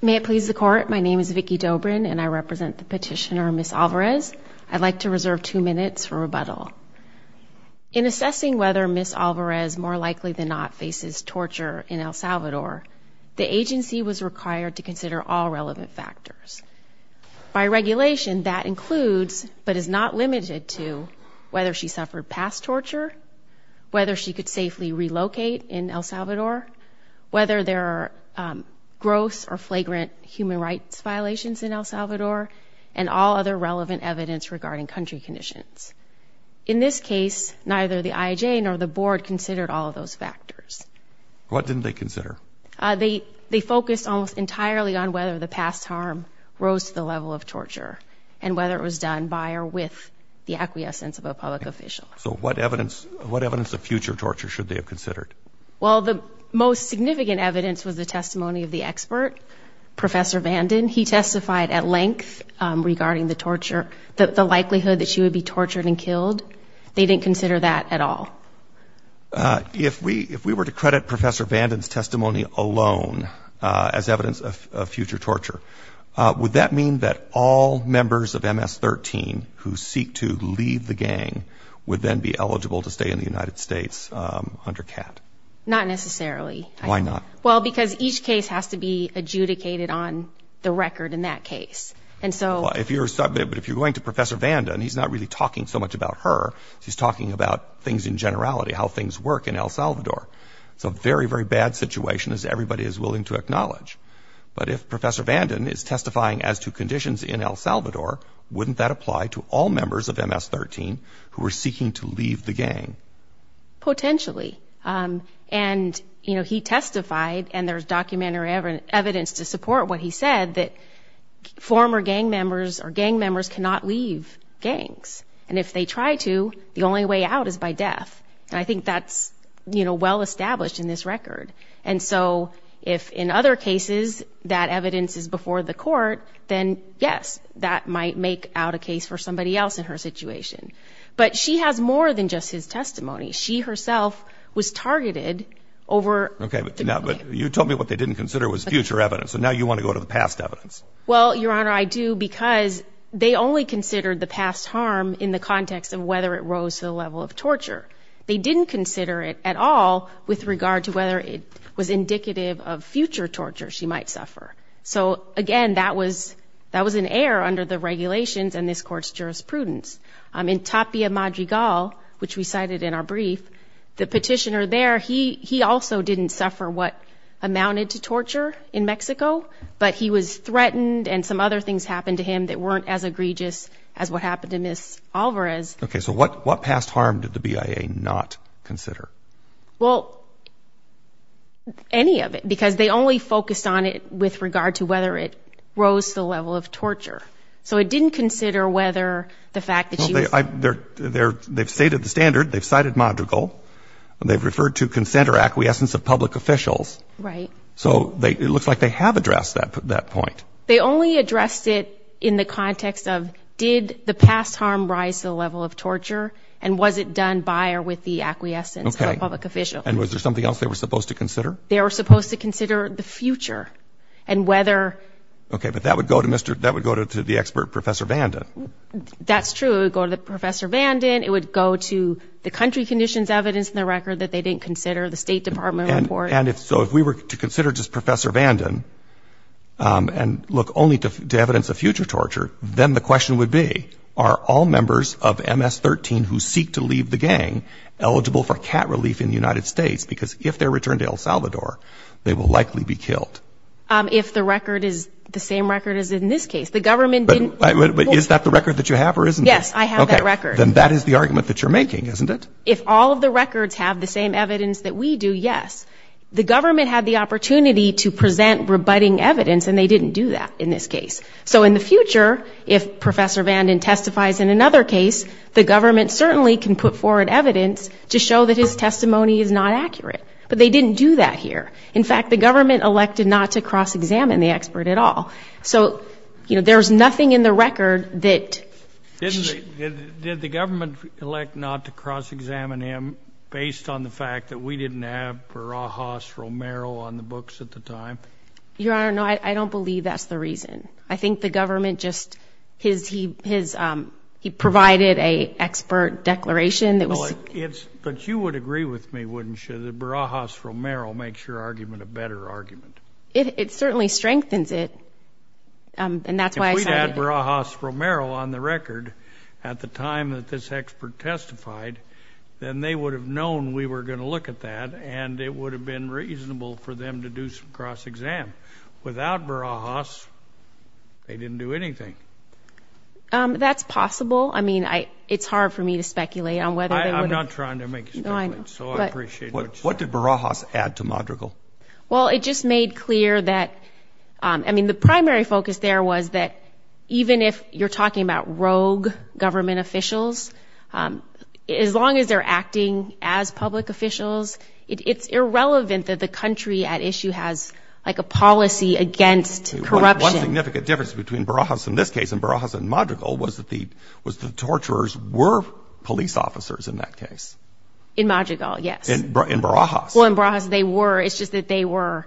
May it please the court, my name is Vicki Dobrin and I represent the petitioner Ms. Alvarez. I'd like to reserve two minutes for rebuttal. In assessing whether Ms. Alvarez more likely than not faces torture in El Salvador, the agency was required to consider all relevant factors. By regulation that includes, but is not limited to, whether she suffered past torture, whether she could safely relocate in El Salvador, whether there are gross or flagrant human rights violations in El Salvador, and all other relevant evidence regarding country conditions. In this case, neither the IAJ nor the board considered all of those factors. What didn't they consider? They focused almost entirely on whether the past harm rose to the level of torture and whether it was done by or with the acquiescence of a public official. So what evidence, what evidence of future torture should they have considered? Well the most significant evidence was the testimony of the expert, Professor Vanden. He testified at length regarding the torture, that the likelihood that she would be tortured and killed. They didn't consider that at all. If we, if we were to credit Professor Vanden's testimony alone as evidence of future torture, would that mean that all members of MS-13 who seek to leave the gang would then be eligible to stay in the United States under CAT? Not necessarily. Why not? Well because each case has to be adjudicated on the record in that case, and so. Well if you're, but if you're going to Professor Vanden, he's not really talking so much about her, he's talking about things in generality, how things work in El Salvador. It's a very, very bad situation as everybody is willing to acknowledge. But if Professor Vanden is testifying as to conditions in El Salvador, wouldn't that apply to all potentially? And you know, he testified, and there's documentary evidence to support what he said, that former gang members or gang members cannot leave gangs. And if they try to, the only way out is by death. And I think that's, you know, well established in this record. And so if in other cases that evidence is before the court, then yes, that might make out a case for somebody else in her was targeted over. Okay, but now, but you told me what they didn't consider was future evidence, so now you want to go to the past evidence. Well, Your Honor, I do because they only considered the past harm in the context of whether it rose to the level of torture. They didn't consider it at all with regard to whether it was indicative of future torture she might suffer. So again, that was, that was an error under the regulations and this court's the petitioner there, he also didn't suffer what amounted to torture in Mexico, but he was threatened and some other things happened to him that weren't as egregious as what happened to Ms. Alvarez. Okay, so what past harm did the BIA not consider? Well, any of it, because they only focused on it with regard to whether it rose to the level of torture. So it didn't consider whether the fact that she was... They've stated the standard, they've cited modrigal, they've referred to consent or acquiescence of public officials. Right. So it looks like they have addressed that point. They only addressed it in the context of did the past harm rise to the level of torture and was it done by or with the acquiescence of a public official. And was there something else they were supposed to consider? They were supposed to consider the future and whether... Okay, but that would go to Mr., that would go to the expert Professor Vanden. That's true, it would go to the Professor Vanden, it would go to the country conditions evidence in the record that they didn't consider, the State Department report. And if so, if we were to consider just Professor Vanden and look only to evidence of future torture, then the question would be are all members of MS-13 who seek to leave the gang eligible for cat relief in the United States? Because if they're returned to El Salvador, they will likely be killed. If the record is the same record as in this case. The record, is that the record that you have or isn't it? Yes, I have that record. Then that is the argument that you're making, isn't it? If all of the records have the same evidence that we do, yes. The government had the opportunity to present rebutting evidence and they didn't do that in this case. So in the future, if Professor Vanden testifies in another case, the government certainly can put forward evidence to show that his testimony is not accurate. But they didn't do that here. In fact, the government elected not to cross-examine the expert at all. So, you know, there's nothing in the record that... Did the government elect not to cross-examine him based on the fact that we didn't have Barajas Romero on the books at the time? Your Honor, no, I don't believe that's the reason. I think the government just, he provided an expert declaration. But you would agree with me, wouldn't you, that Barajas strengthens it? And that's why... If we had Barajas Romero on the record at the time that this expert testified, then they would have known we were going to look at that and it would have been reasonable for them to do some cross-exam. Without Barajas, they didn't do anything. That's possible. I mean, it's hard for me to speculate on whether... I'm not trying to make you speculate, so I appreciate it. What did Barajas add to it? I mean, the primary focus there was that even if you're talking about rogue government officials, as long as they're acting as public officials, it's irrelevant that the country at issue has like a policy against corruption. One significant difference between Barajas in this case and Barajas in Madrigal was that the, was the torturers were police officers in that case. In Madrigal, yes. In Barajas. Well, in Barajas they were, it's just that they were,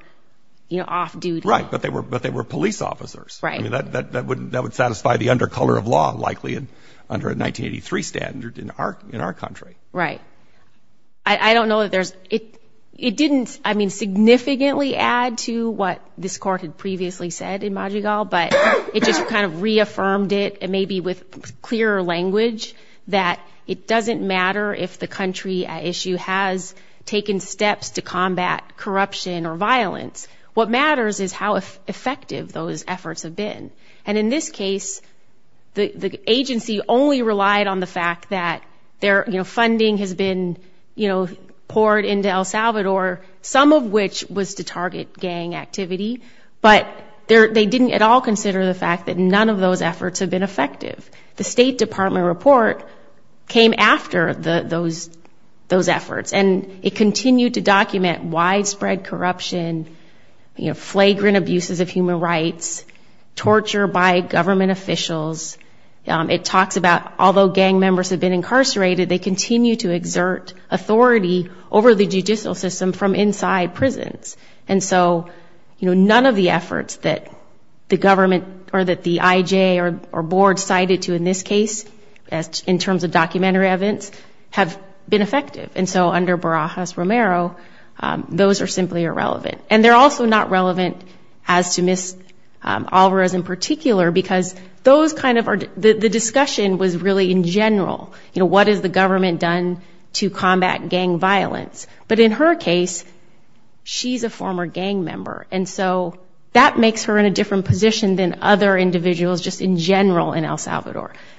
you know, off-duty. Right, but they were police officers. Right. That would satisfy the undercolor of law likely under a 1983 standard in our country. Right. I don't know that there's, it didn't, I mean, significantly add to what this court had previously said in Madrigal, but it just kind of reaffirmed it, maybe with clearer language, that it doesn't matter if the country at issue has taken steps to combat corruption or violence. What matters is how effective those efforts have been. And in this case, the agency only relied on the fact that their, you know, funding has been, you know, poured into El Salvador, some of which was to target gang activity, but there, they didn't at all consider the fact that none of those efforts have been effective. The State Department report came after those efforts, and it continued to document widespread corruption, you know, flagrant abuses of human rights, torture by government officials. It talks about, although gang members have been incarcerated, they continue to exert authority over the judicial system from inside prisons. And so, you know, none of the efforts that the government or that the IJ or board decided to, in this case, in terms of documentary evidence, have been effective. And so under Barajas-Romero, those are simply irrelevant. And they're also not relevant as to Ms. Alvarez in particular, because those kind of are, the discussion was really in general, you know, what has the government done to combat gang violence? But in her case, she's a former gang member, and so that makes her in a Salvador.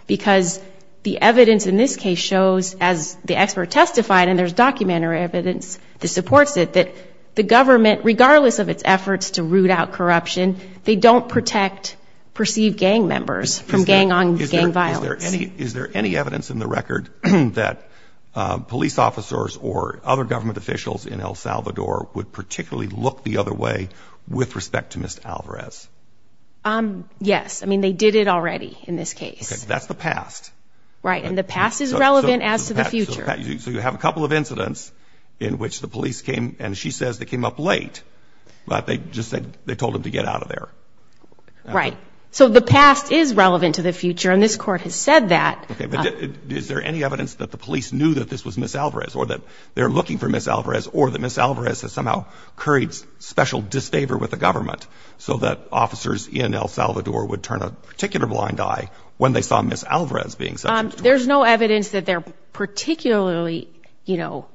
Because the evidence in this case shows, as the expert testified, and there's documentary evidence that supports it, that the government, regardless of its efforts to root out corruption, they don't protect perceived gang members from gang violence. Is there any evidence in the record that police officers or other government officials in El Salvador would particularly look the other way with respect to Ms. Alvarez? Yes. I mean, they did it already in this case. That's the past. Right, and the past is relevant as to the future. So you have a couple of incidents in which the police came, and she says they came up late, but they just said they told him to get out of there. Right. So the past is relevant to the future, and this court has said that. Is there any evidence that the police knew that this was Ms. Alvarez, or that they're looking for Ms. Alvarez, or that Ms. Alvarez has somehow carried special disfavor with the government, so that officers in El Salvador would turn a particular blind eye when they saw Ms. Alvarez being sexually abused? There's no evidence that they're particularly, you know,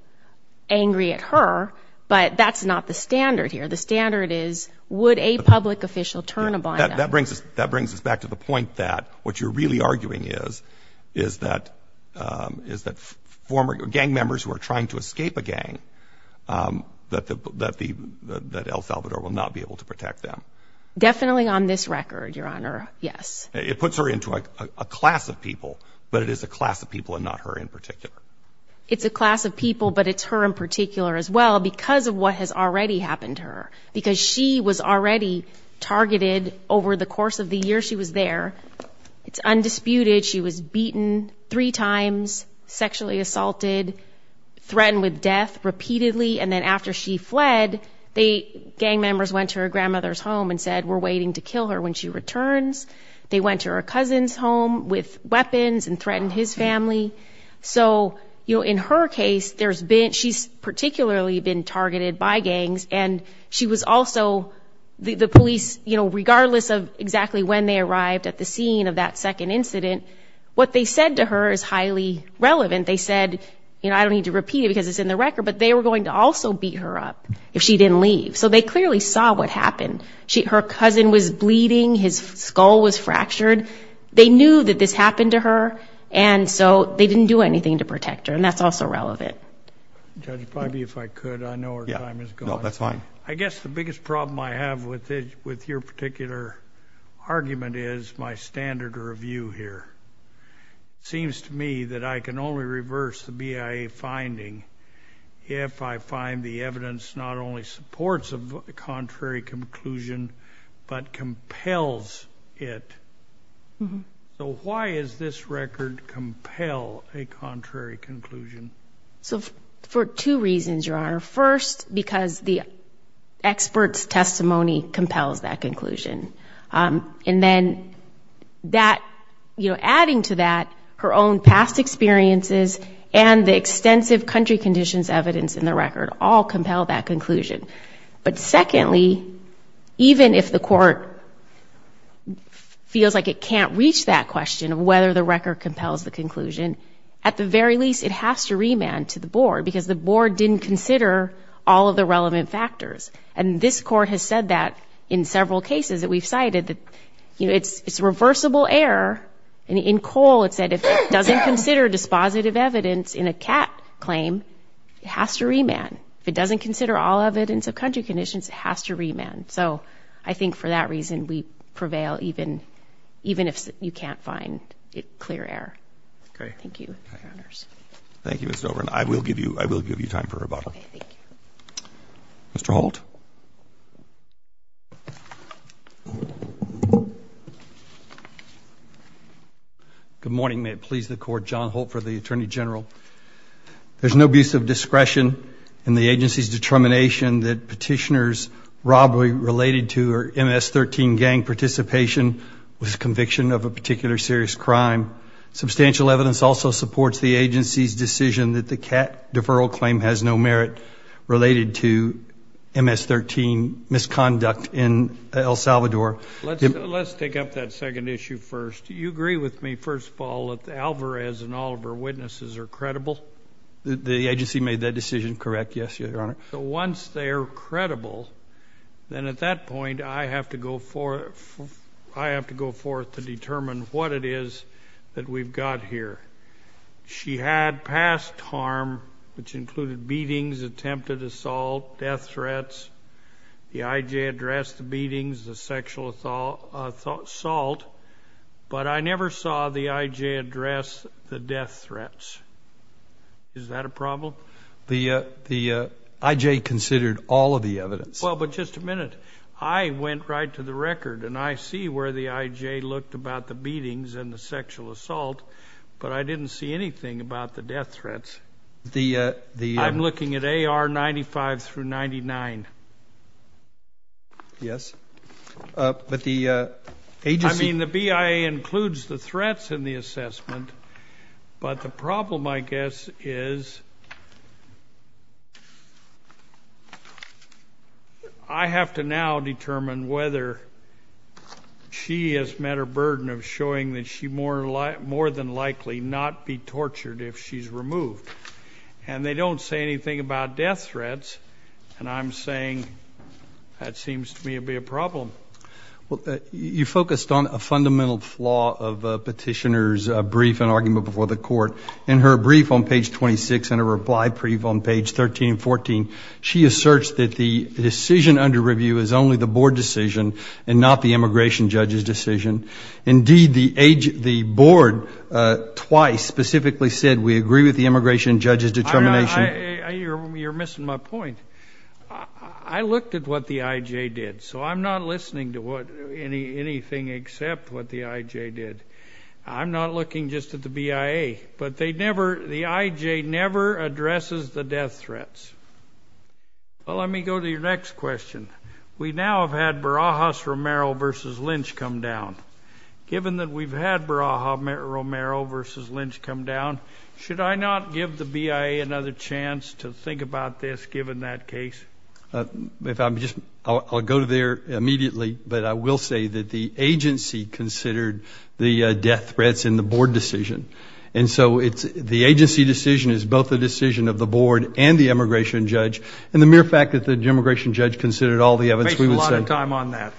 angry at her, but that's not the standard here. The standard is, would a public official turn a blind eye? That brings us back to the point that what you're really arguing is, is that former gang members who are trying to escape a gang, that El Salvador will not be able to protect them. Definitely on this record, Your Honor, yes. It puts her into a class of people, but it is a class of people and not her in particular. It's a class of people, but it's her in particular as well, because of what has already happened to her. Because she was already targeted over the course of the year she was there. It's undisputed, she was beaten three times, sexually assaulted, threatened with death repeatedly, and then after she fled, the gang members went to her grandmother's home and said, we're waiting to kill her when she returns. They went to her cousin's home with weapons and threatened his family. So, you know, in her case, there's been, she's particularly been targeted by gangs, and she was also, the police, you know, regardless of exactly when they arrived at the scene of that second incident, what they said to her is highly relevant. They said, you know, I don't need to repeat it because it's in the record, but they were going to also beat her up if she didn't leave. So they clearly saw what happened. Her cousin was bleeding, his skull was fractured. They knew that this happened to her, and so they didn't do anything to protect her, and that's also relevant. Judge Priby, if I could, I know our time is gone. No, that's fine. I guess the biggest problem I have with it, with your particular argument, is my standard of review here. It seems to me that I can only reverse the BIA finding if I find the evidence not only supports a contrary conclusion, but compels it. So why is this record compel a contrary conclusion? So, for two reasons, Your Honor. First, because the expert's testimony compels that conclusion. And then that, you know, adding to that, her own past experiences and the extensive country conditions evidence in the record all compel that conclusion. But secondly, even if the court feels like it can't reach that question of whether the record compels the conclusion, at the very least it has to remand to the board, because the board didn't consider all of the relevant factors. And this court has said that in several cases that we've cited that, you know, it's reversible error, and in Cole it said if it doesn't consider dispositive evidence in a CAAT claim, it has to remand. If it doesn't consider all evidence of country conditions, it has to remand. So I think for that reason we prevail even if you can't find clear error. Thank you, Your Honors. Thank you, Ms. Dobrin. I will give you, I will give you time for rebuttal. Mr. Holt. Good morning. May it please the court, John Holt for the Attorney General. There's no abuse of discretion in the agency's determination that petitioners' robbery related to her MS-13 gang participation was conviction of a particular serious crime. Substantial evidence also supports the agency's decision that the CAAT deferral claim has no merit related to MS-13 misconduct in El Salvador. Let's take up that second issue first. Do you agree with me, first of all, that Alvarez and all of her witnesses are credible? The agency made that decision correct, yes, Your Honor. So once they are credible, then at that point I have to go forth, I have to go forth with the evidence that we've got here. She had past harm, which included beatings, attempted assault, death threats. The I.J. addressed the beatings, the sexual assault, but I never saw the I.J. address the death threats. Is that a problem? The I.J. considered all of the evidence. Well, but just a minute. I went right to the record and I see where the I.J. looked about the sexual assault, but I didn't see anything about the death threats. I'm looking at A.R. 95 through 99. Yes, but the agency... I mean, the BIA includes the threats in the assessment, but the problem, I guess, is I have to now determine whether she has met her burden of showing that she more than likely not be tortured if she's removed. And they don't say anything about death threats, and I'm saying that seems to me to be a problem. You focused on a fundamental flaw of Petitioner's brief and argument before the court. In her brief on page 26 and her reply brief on page 13 and 14, she asserts that the decision under Indeed, the board twice specifically said, we agree with the immigration judge's determination. You're missing my point. I looked at what the I.J. did, so I'm not listening to anything except what the I.J. did. I'm not looking just at the BIA, but the I.J. never addresses the death threats. Well, let me go to your next question. We now have had Barajas, Romero versus Lynch come down. Given that we've had Barajas, Romero versus Lynch come down, should I not give the BIA another chance to think about this given that case? If I'm just, I'll go there immediately, but I will say that the agency considered the death threats in the board decision. And so it's, the agency decision is both the decision of the board and the immigration judge, and the mere fact that the immigration judge considered all the evidence, we would say. We don't have a lot of time on that.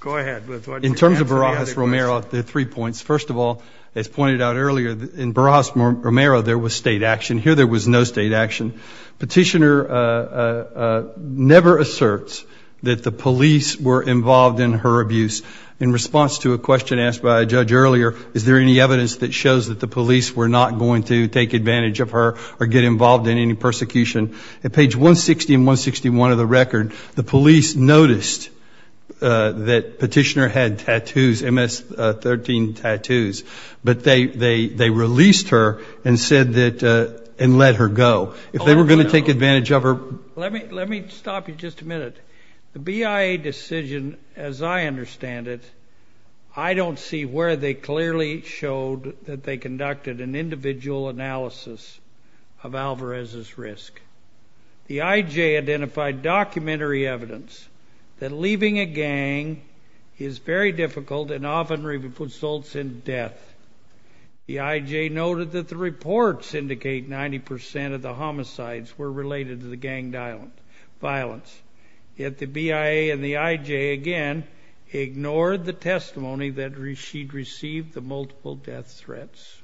Go ahead. In terms of Barajas, Romero, there are three points. First of all, as pointed out earlier, in Barajas, Romero, there was state action. Here, there was no state action. Petitioner never asserts that the police were involved in her abuse. In response to a question asked by a judge earlier, is there any evidence that shows that the police were not going to take advantage of her or get involved in any persecution? At page 160 and 161 of the that petitioner had tattoos, MS-13 tattoos, but they released her and said that, and let her go. If they were going to take advantage of her... Let me stop you just a minute. The BIA decision, as I understand it, I don't see where they clearly showed that they conducted an individual analysis of Alvarez's risk. The IJ identified documentary evidence that leaving a gang is very difficult and often results in death. The IJ noted that the reports indicate 90 percent of the homicides were related to the gang violence. Yet the BIA and the IJ, again, ignored the testimony that she'd received the multiple death threats.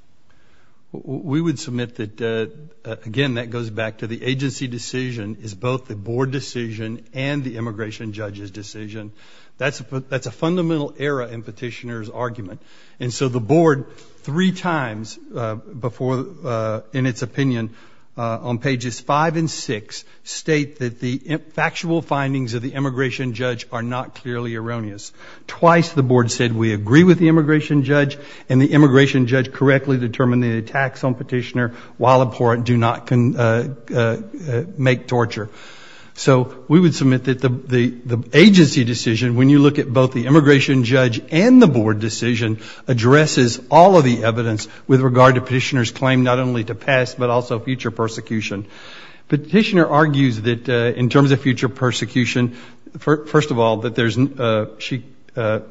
We would submit that, again, that goes back to the agency decision is both the board decision and the immigration judge's decision. That's a fundamental error in petitioner's argument. And so the board, three times before in its opinion, on pages five and six, state that the factual findings of the immigration judge are not clearly erroneous. Twice the board said, we agree with the immigration judge and the immigration judge correctly determined the attacks on petitioner while abhorrent do not make torture. So we would submit that the agency decision, when you look at both the immigration judge and the board decision, addresses all of the evidence with regard to petitioner's claim not only to pass but also future persecution. Petitioner argues that in terms of future persecution, first of all, that there's...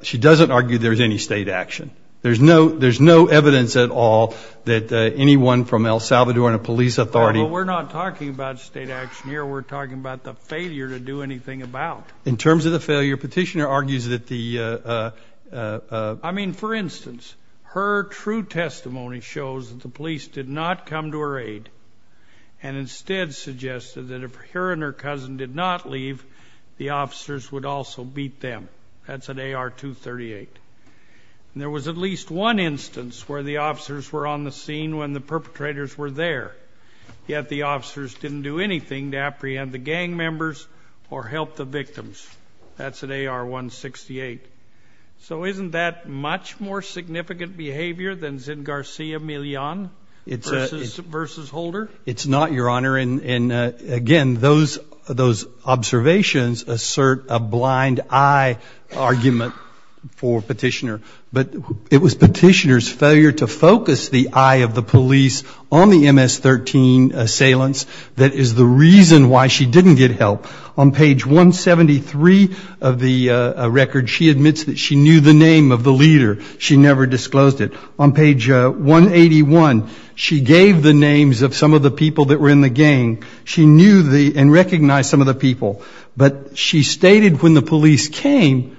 She doesn't argue there's any state action. There's no evidence at all that anyone from El Salvador and a police authority... Well, we're not talking about state action here. We're talking about the failure to do anything about. In terms of the failure, petitioner argues that the... I mean, for instance, her true testimony shows that the police did not come to her aid and instead suggested that if her and her cousin did not leave, the officers would also beat them. That's an AR-238. And there was at least one instance where the officers were on the scene when the perpetrators were there, yet the officers didn't do anything to apprehend the gang members or help the victims. That's an AR-168. So isn't that much more significant behavior than Zin Garcia Millon versus Holder? It's not, Your Honor. And again, those observations assert a blind eye argument for petitioner. But it was petitioner's failure to focus the eye of the police on the MS-13 assailants that is the reason why she didn't get help. On page 173 of the record, she admits that she knew the name of the leader. She never disclosed it. On page 181, she gave the names of some of the people that were in the gang. She knew the and recognized some of the people. But she stated when the police came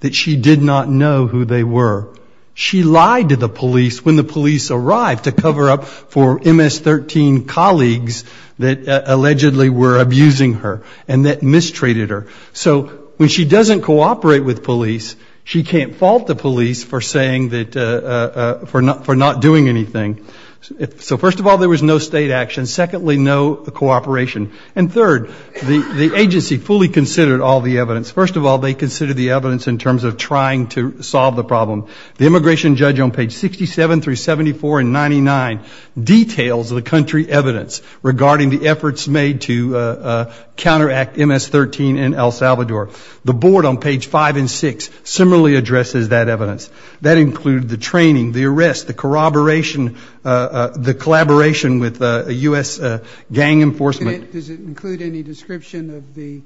that she did not know who they were. She lied to the police when the police arrived to cover up for MS-13 colleagues that allegedly were abusing her and that mistreated her. So when she doesn't cooperate with police, she can't fault the police for not doing anything. So first of all, there was no state action. Secondly, no cooperation. And third, the agency fully considered all the evidence. First of all, they considered the evidence in terms of trying to solve the problem. The immigration judge on page 67 through 74 and 99 details the country evidence regarding the efforts made to counteract MS-13 in El Salvador. The board on page 5 and 6 similarly addresses that evidence. That included the training, the arrest, the corroboration, the collaboration with U.S. gang enforcement. Does it include any description of the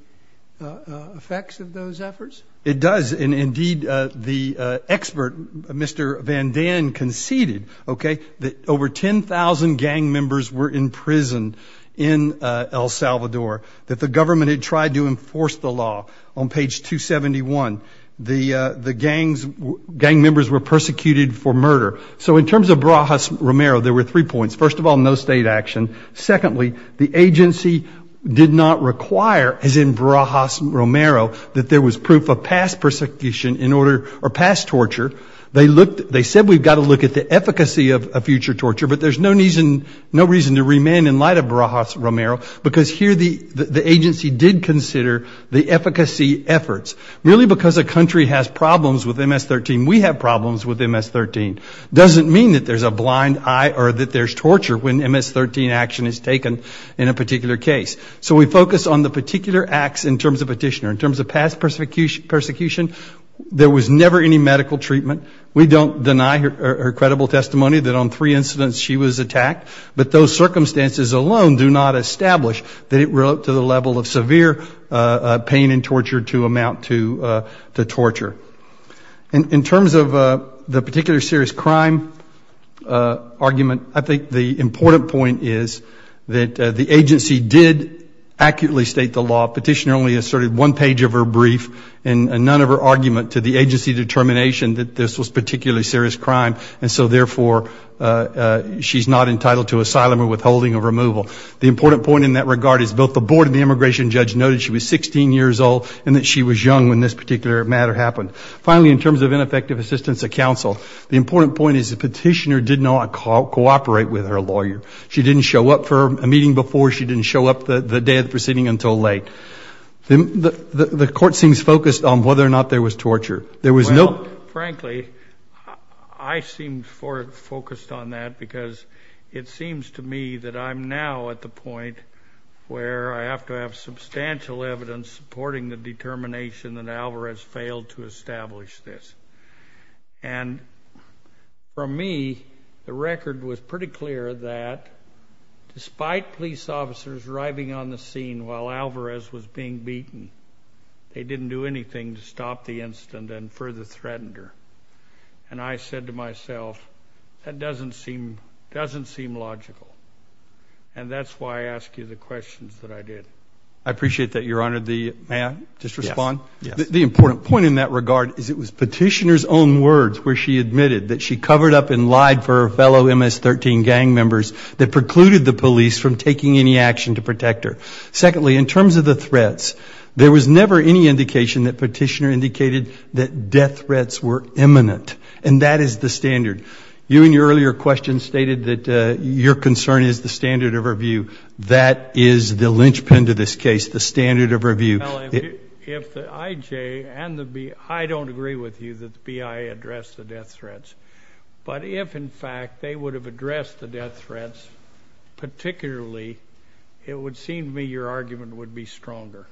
effects of those efforts? It does. And indeed, the expert, Mr. Van Dan, conceded that over 10,000 gang members were imprisoned in El Salvador, that the government had tried to enforce the law. On page 271, the gang members were persecuted for murder. So in terms of Barajas Romero, there were three points. First of all, no state action. Secondly, the agency did not require, as in terms of a past persecution or past torture, they said we've got to look at the efficacy of a future torture, but there's no reason to remain in light of Barajas Romero, because here the agency did consider the efficacy efforts. Merely because a country has problems with MS-13, we have problems with MS-13, doesn't mean that there's a blind eye or that there's torture when MS-13 action is taken in a particular case. So we focus on the particular acts in terms of petitioner. In terms of past persecution, there was never any medical treatment. We don't deny her credible testimony that on three incidents she was attacked, but those circumstances alone do not establish that it relate to the level of severe pain and torture to amount to torture. In terms of the particular serious crime argument, I think the important point is that the agency did accurately state the law. Petitioner only asserted one page of her brief and none of her argument to the agency determination that this was particularly serious crime, and so therefore she's not entitled to asylum or withholding or removal. The important point in that regard is both the board and the immigration judge noted she was 16 years old and that she was young when this particular matter happened. Finally, in terms of ineffective assistance of counsel, the important point is the petitioner did not cooperate with her lawyer. She didn't show up for a meeting before, she didn't show up the day of the proceeding until late. The court seems focused on whether or not there was torture. There was no... Well, frankly, I seem focused on that because it seems to me that I'm now at the point where I have to have substantial evidence supporting the determination that Alvarez failed to establish this. And for me, the record was pretty clear that despite police officers' request to arrive on the scene while Alvarez was being beaten, they didn't do anything to stop the incident and further threatened her. And I said to myself, that doesn't seem logical. And that's why I ask you the questions that I did. I appreciate that, Your Honor. May I just respond? Yes. The important point in that regard is it was petitioner's own words where she admitted that she covered up and lied for her fellow MS-13 gang members that precluded the police from taking any action to protect her. Secondly, in terms of the threats, there was never any indication that petitioner indicated that death threats were imminent. And that is the standard. You, in your earlier question, stated that your concern is the standard of review. That is the linchpin to this case, the standard of review. Well, if the I.J. and the B.I. don't agree with you that the B.I. addressed the death of Petitioner Lee, it would seem to me your argument would be stronger.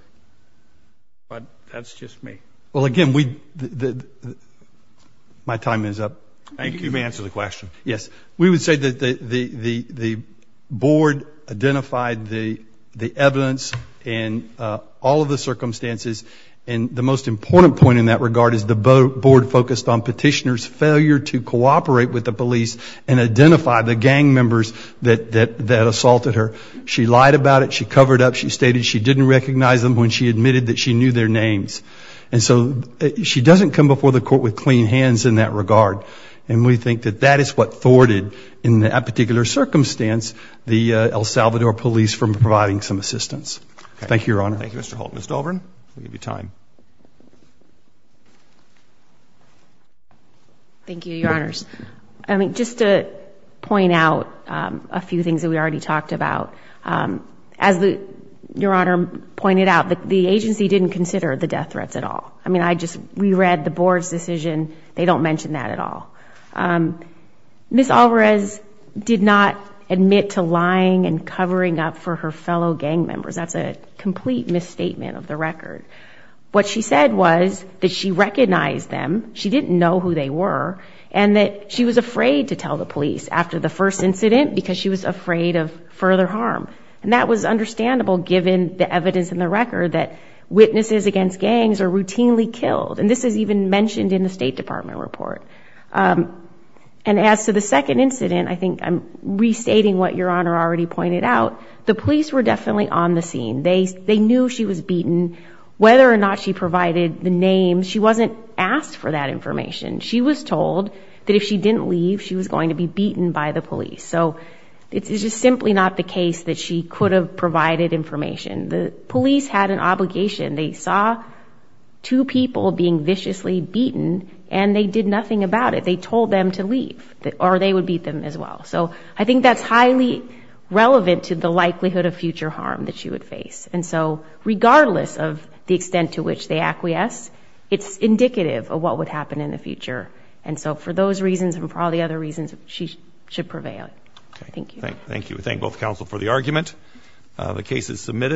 But that's just me. Well, again, my time is up. Thank you for answering the question. Yes. We would say that the board identified the evidence and all of the circumstances. And the most important point in that regard is the board focused on petitioner's failure to cooperate with the police and identify the gang members that assaulted her. She lied about it. She covered up. She stated she didn't recognize them when she admitted that she knew their names. And so she doesn't come before the court with clean hands in that regard. And we think that that is what thwarted, in that particular circumstance, the El Salvador police from providing some assistance. Thank you, Your Honor. Thank you, Mr. Holt. Ms. Dahlgren, we'll give you time. Thank you, Your Honors. I mean, just to point out a few things that we already talked about. As Your Honor pointed out, the agency didn't consider the death threats at all. I mean, I just reread the board's decision. They don't mention that at all. Ms. Alvarez did not admit to lying and covering up for her fellow gang members. That's a complete misstatement of the record. What she said was that she recognized them, she didn't know who they were, and that she was afraid to tell the police after the first incident because she was afraid of further harm. And that was understandable given the evidence in the record that witnesses against gangs are routinely killed. And this is even mentioned in the State Department report. And as to the second incident, I think I'm restating what Your Honor already pointed out. The police were definitely on the scene. They knew she was beaten. Whether or not she provided the name, she wasn't asked for that information. She was told that if she didn't leave, she was going to be beaten by the police. So it's just simply not the case that she could have provided information. The police had an obligation. They saw two people being viciously beaten, and they did nothing about it. They told them to leave, or they would beat them as well. So I think that's highly relevant to the likelihood of future harm that she would face. And so regardless of the extent to which they acquiesce, it's indicative of what would happen in the future. And so for those reasons and for all the other reasons, she should prevail. Thank you. Thank you. We thank both counsel for the argument. The case is submitted.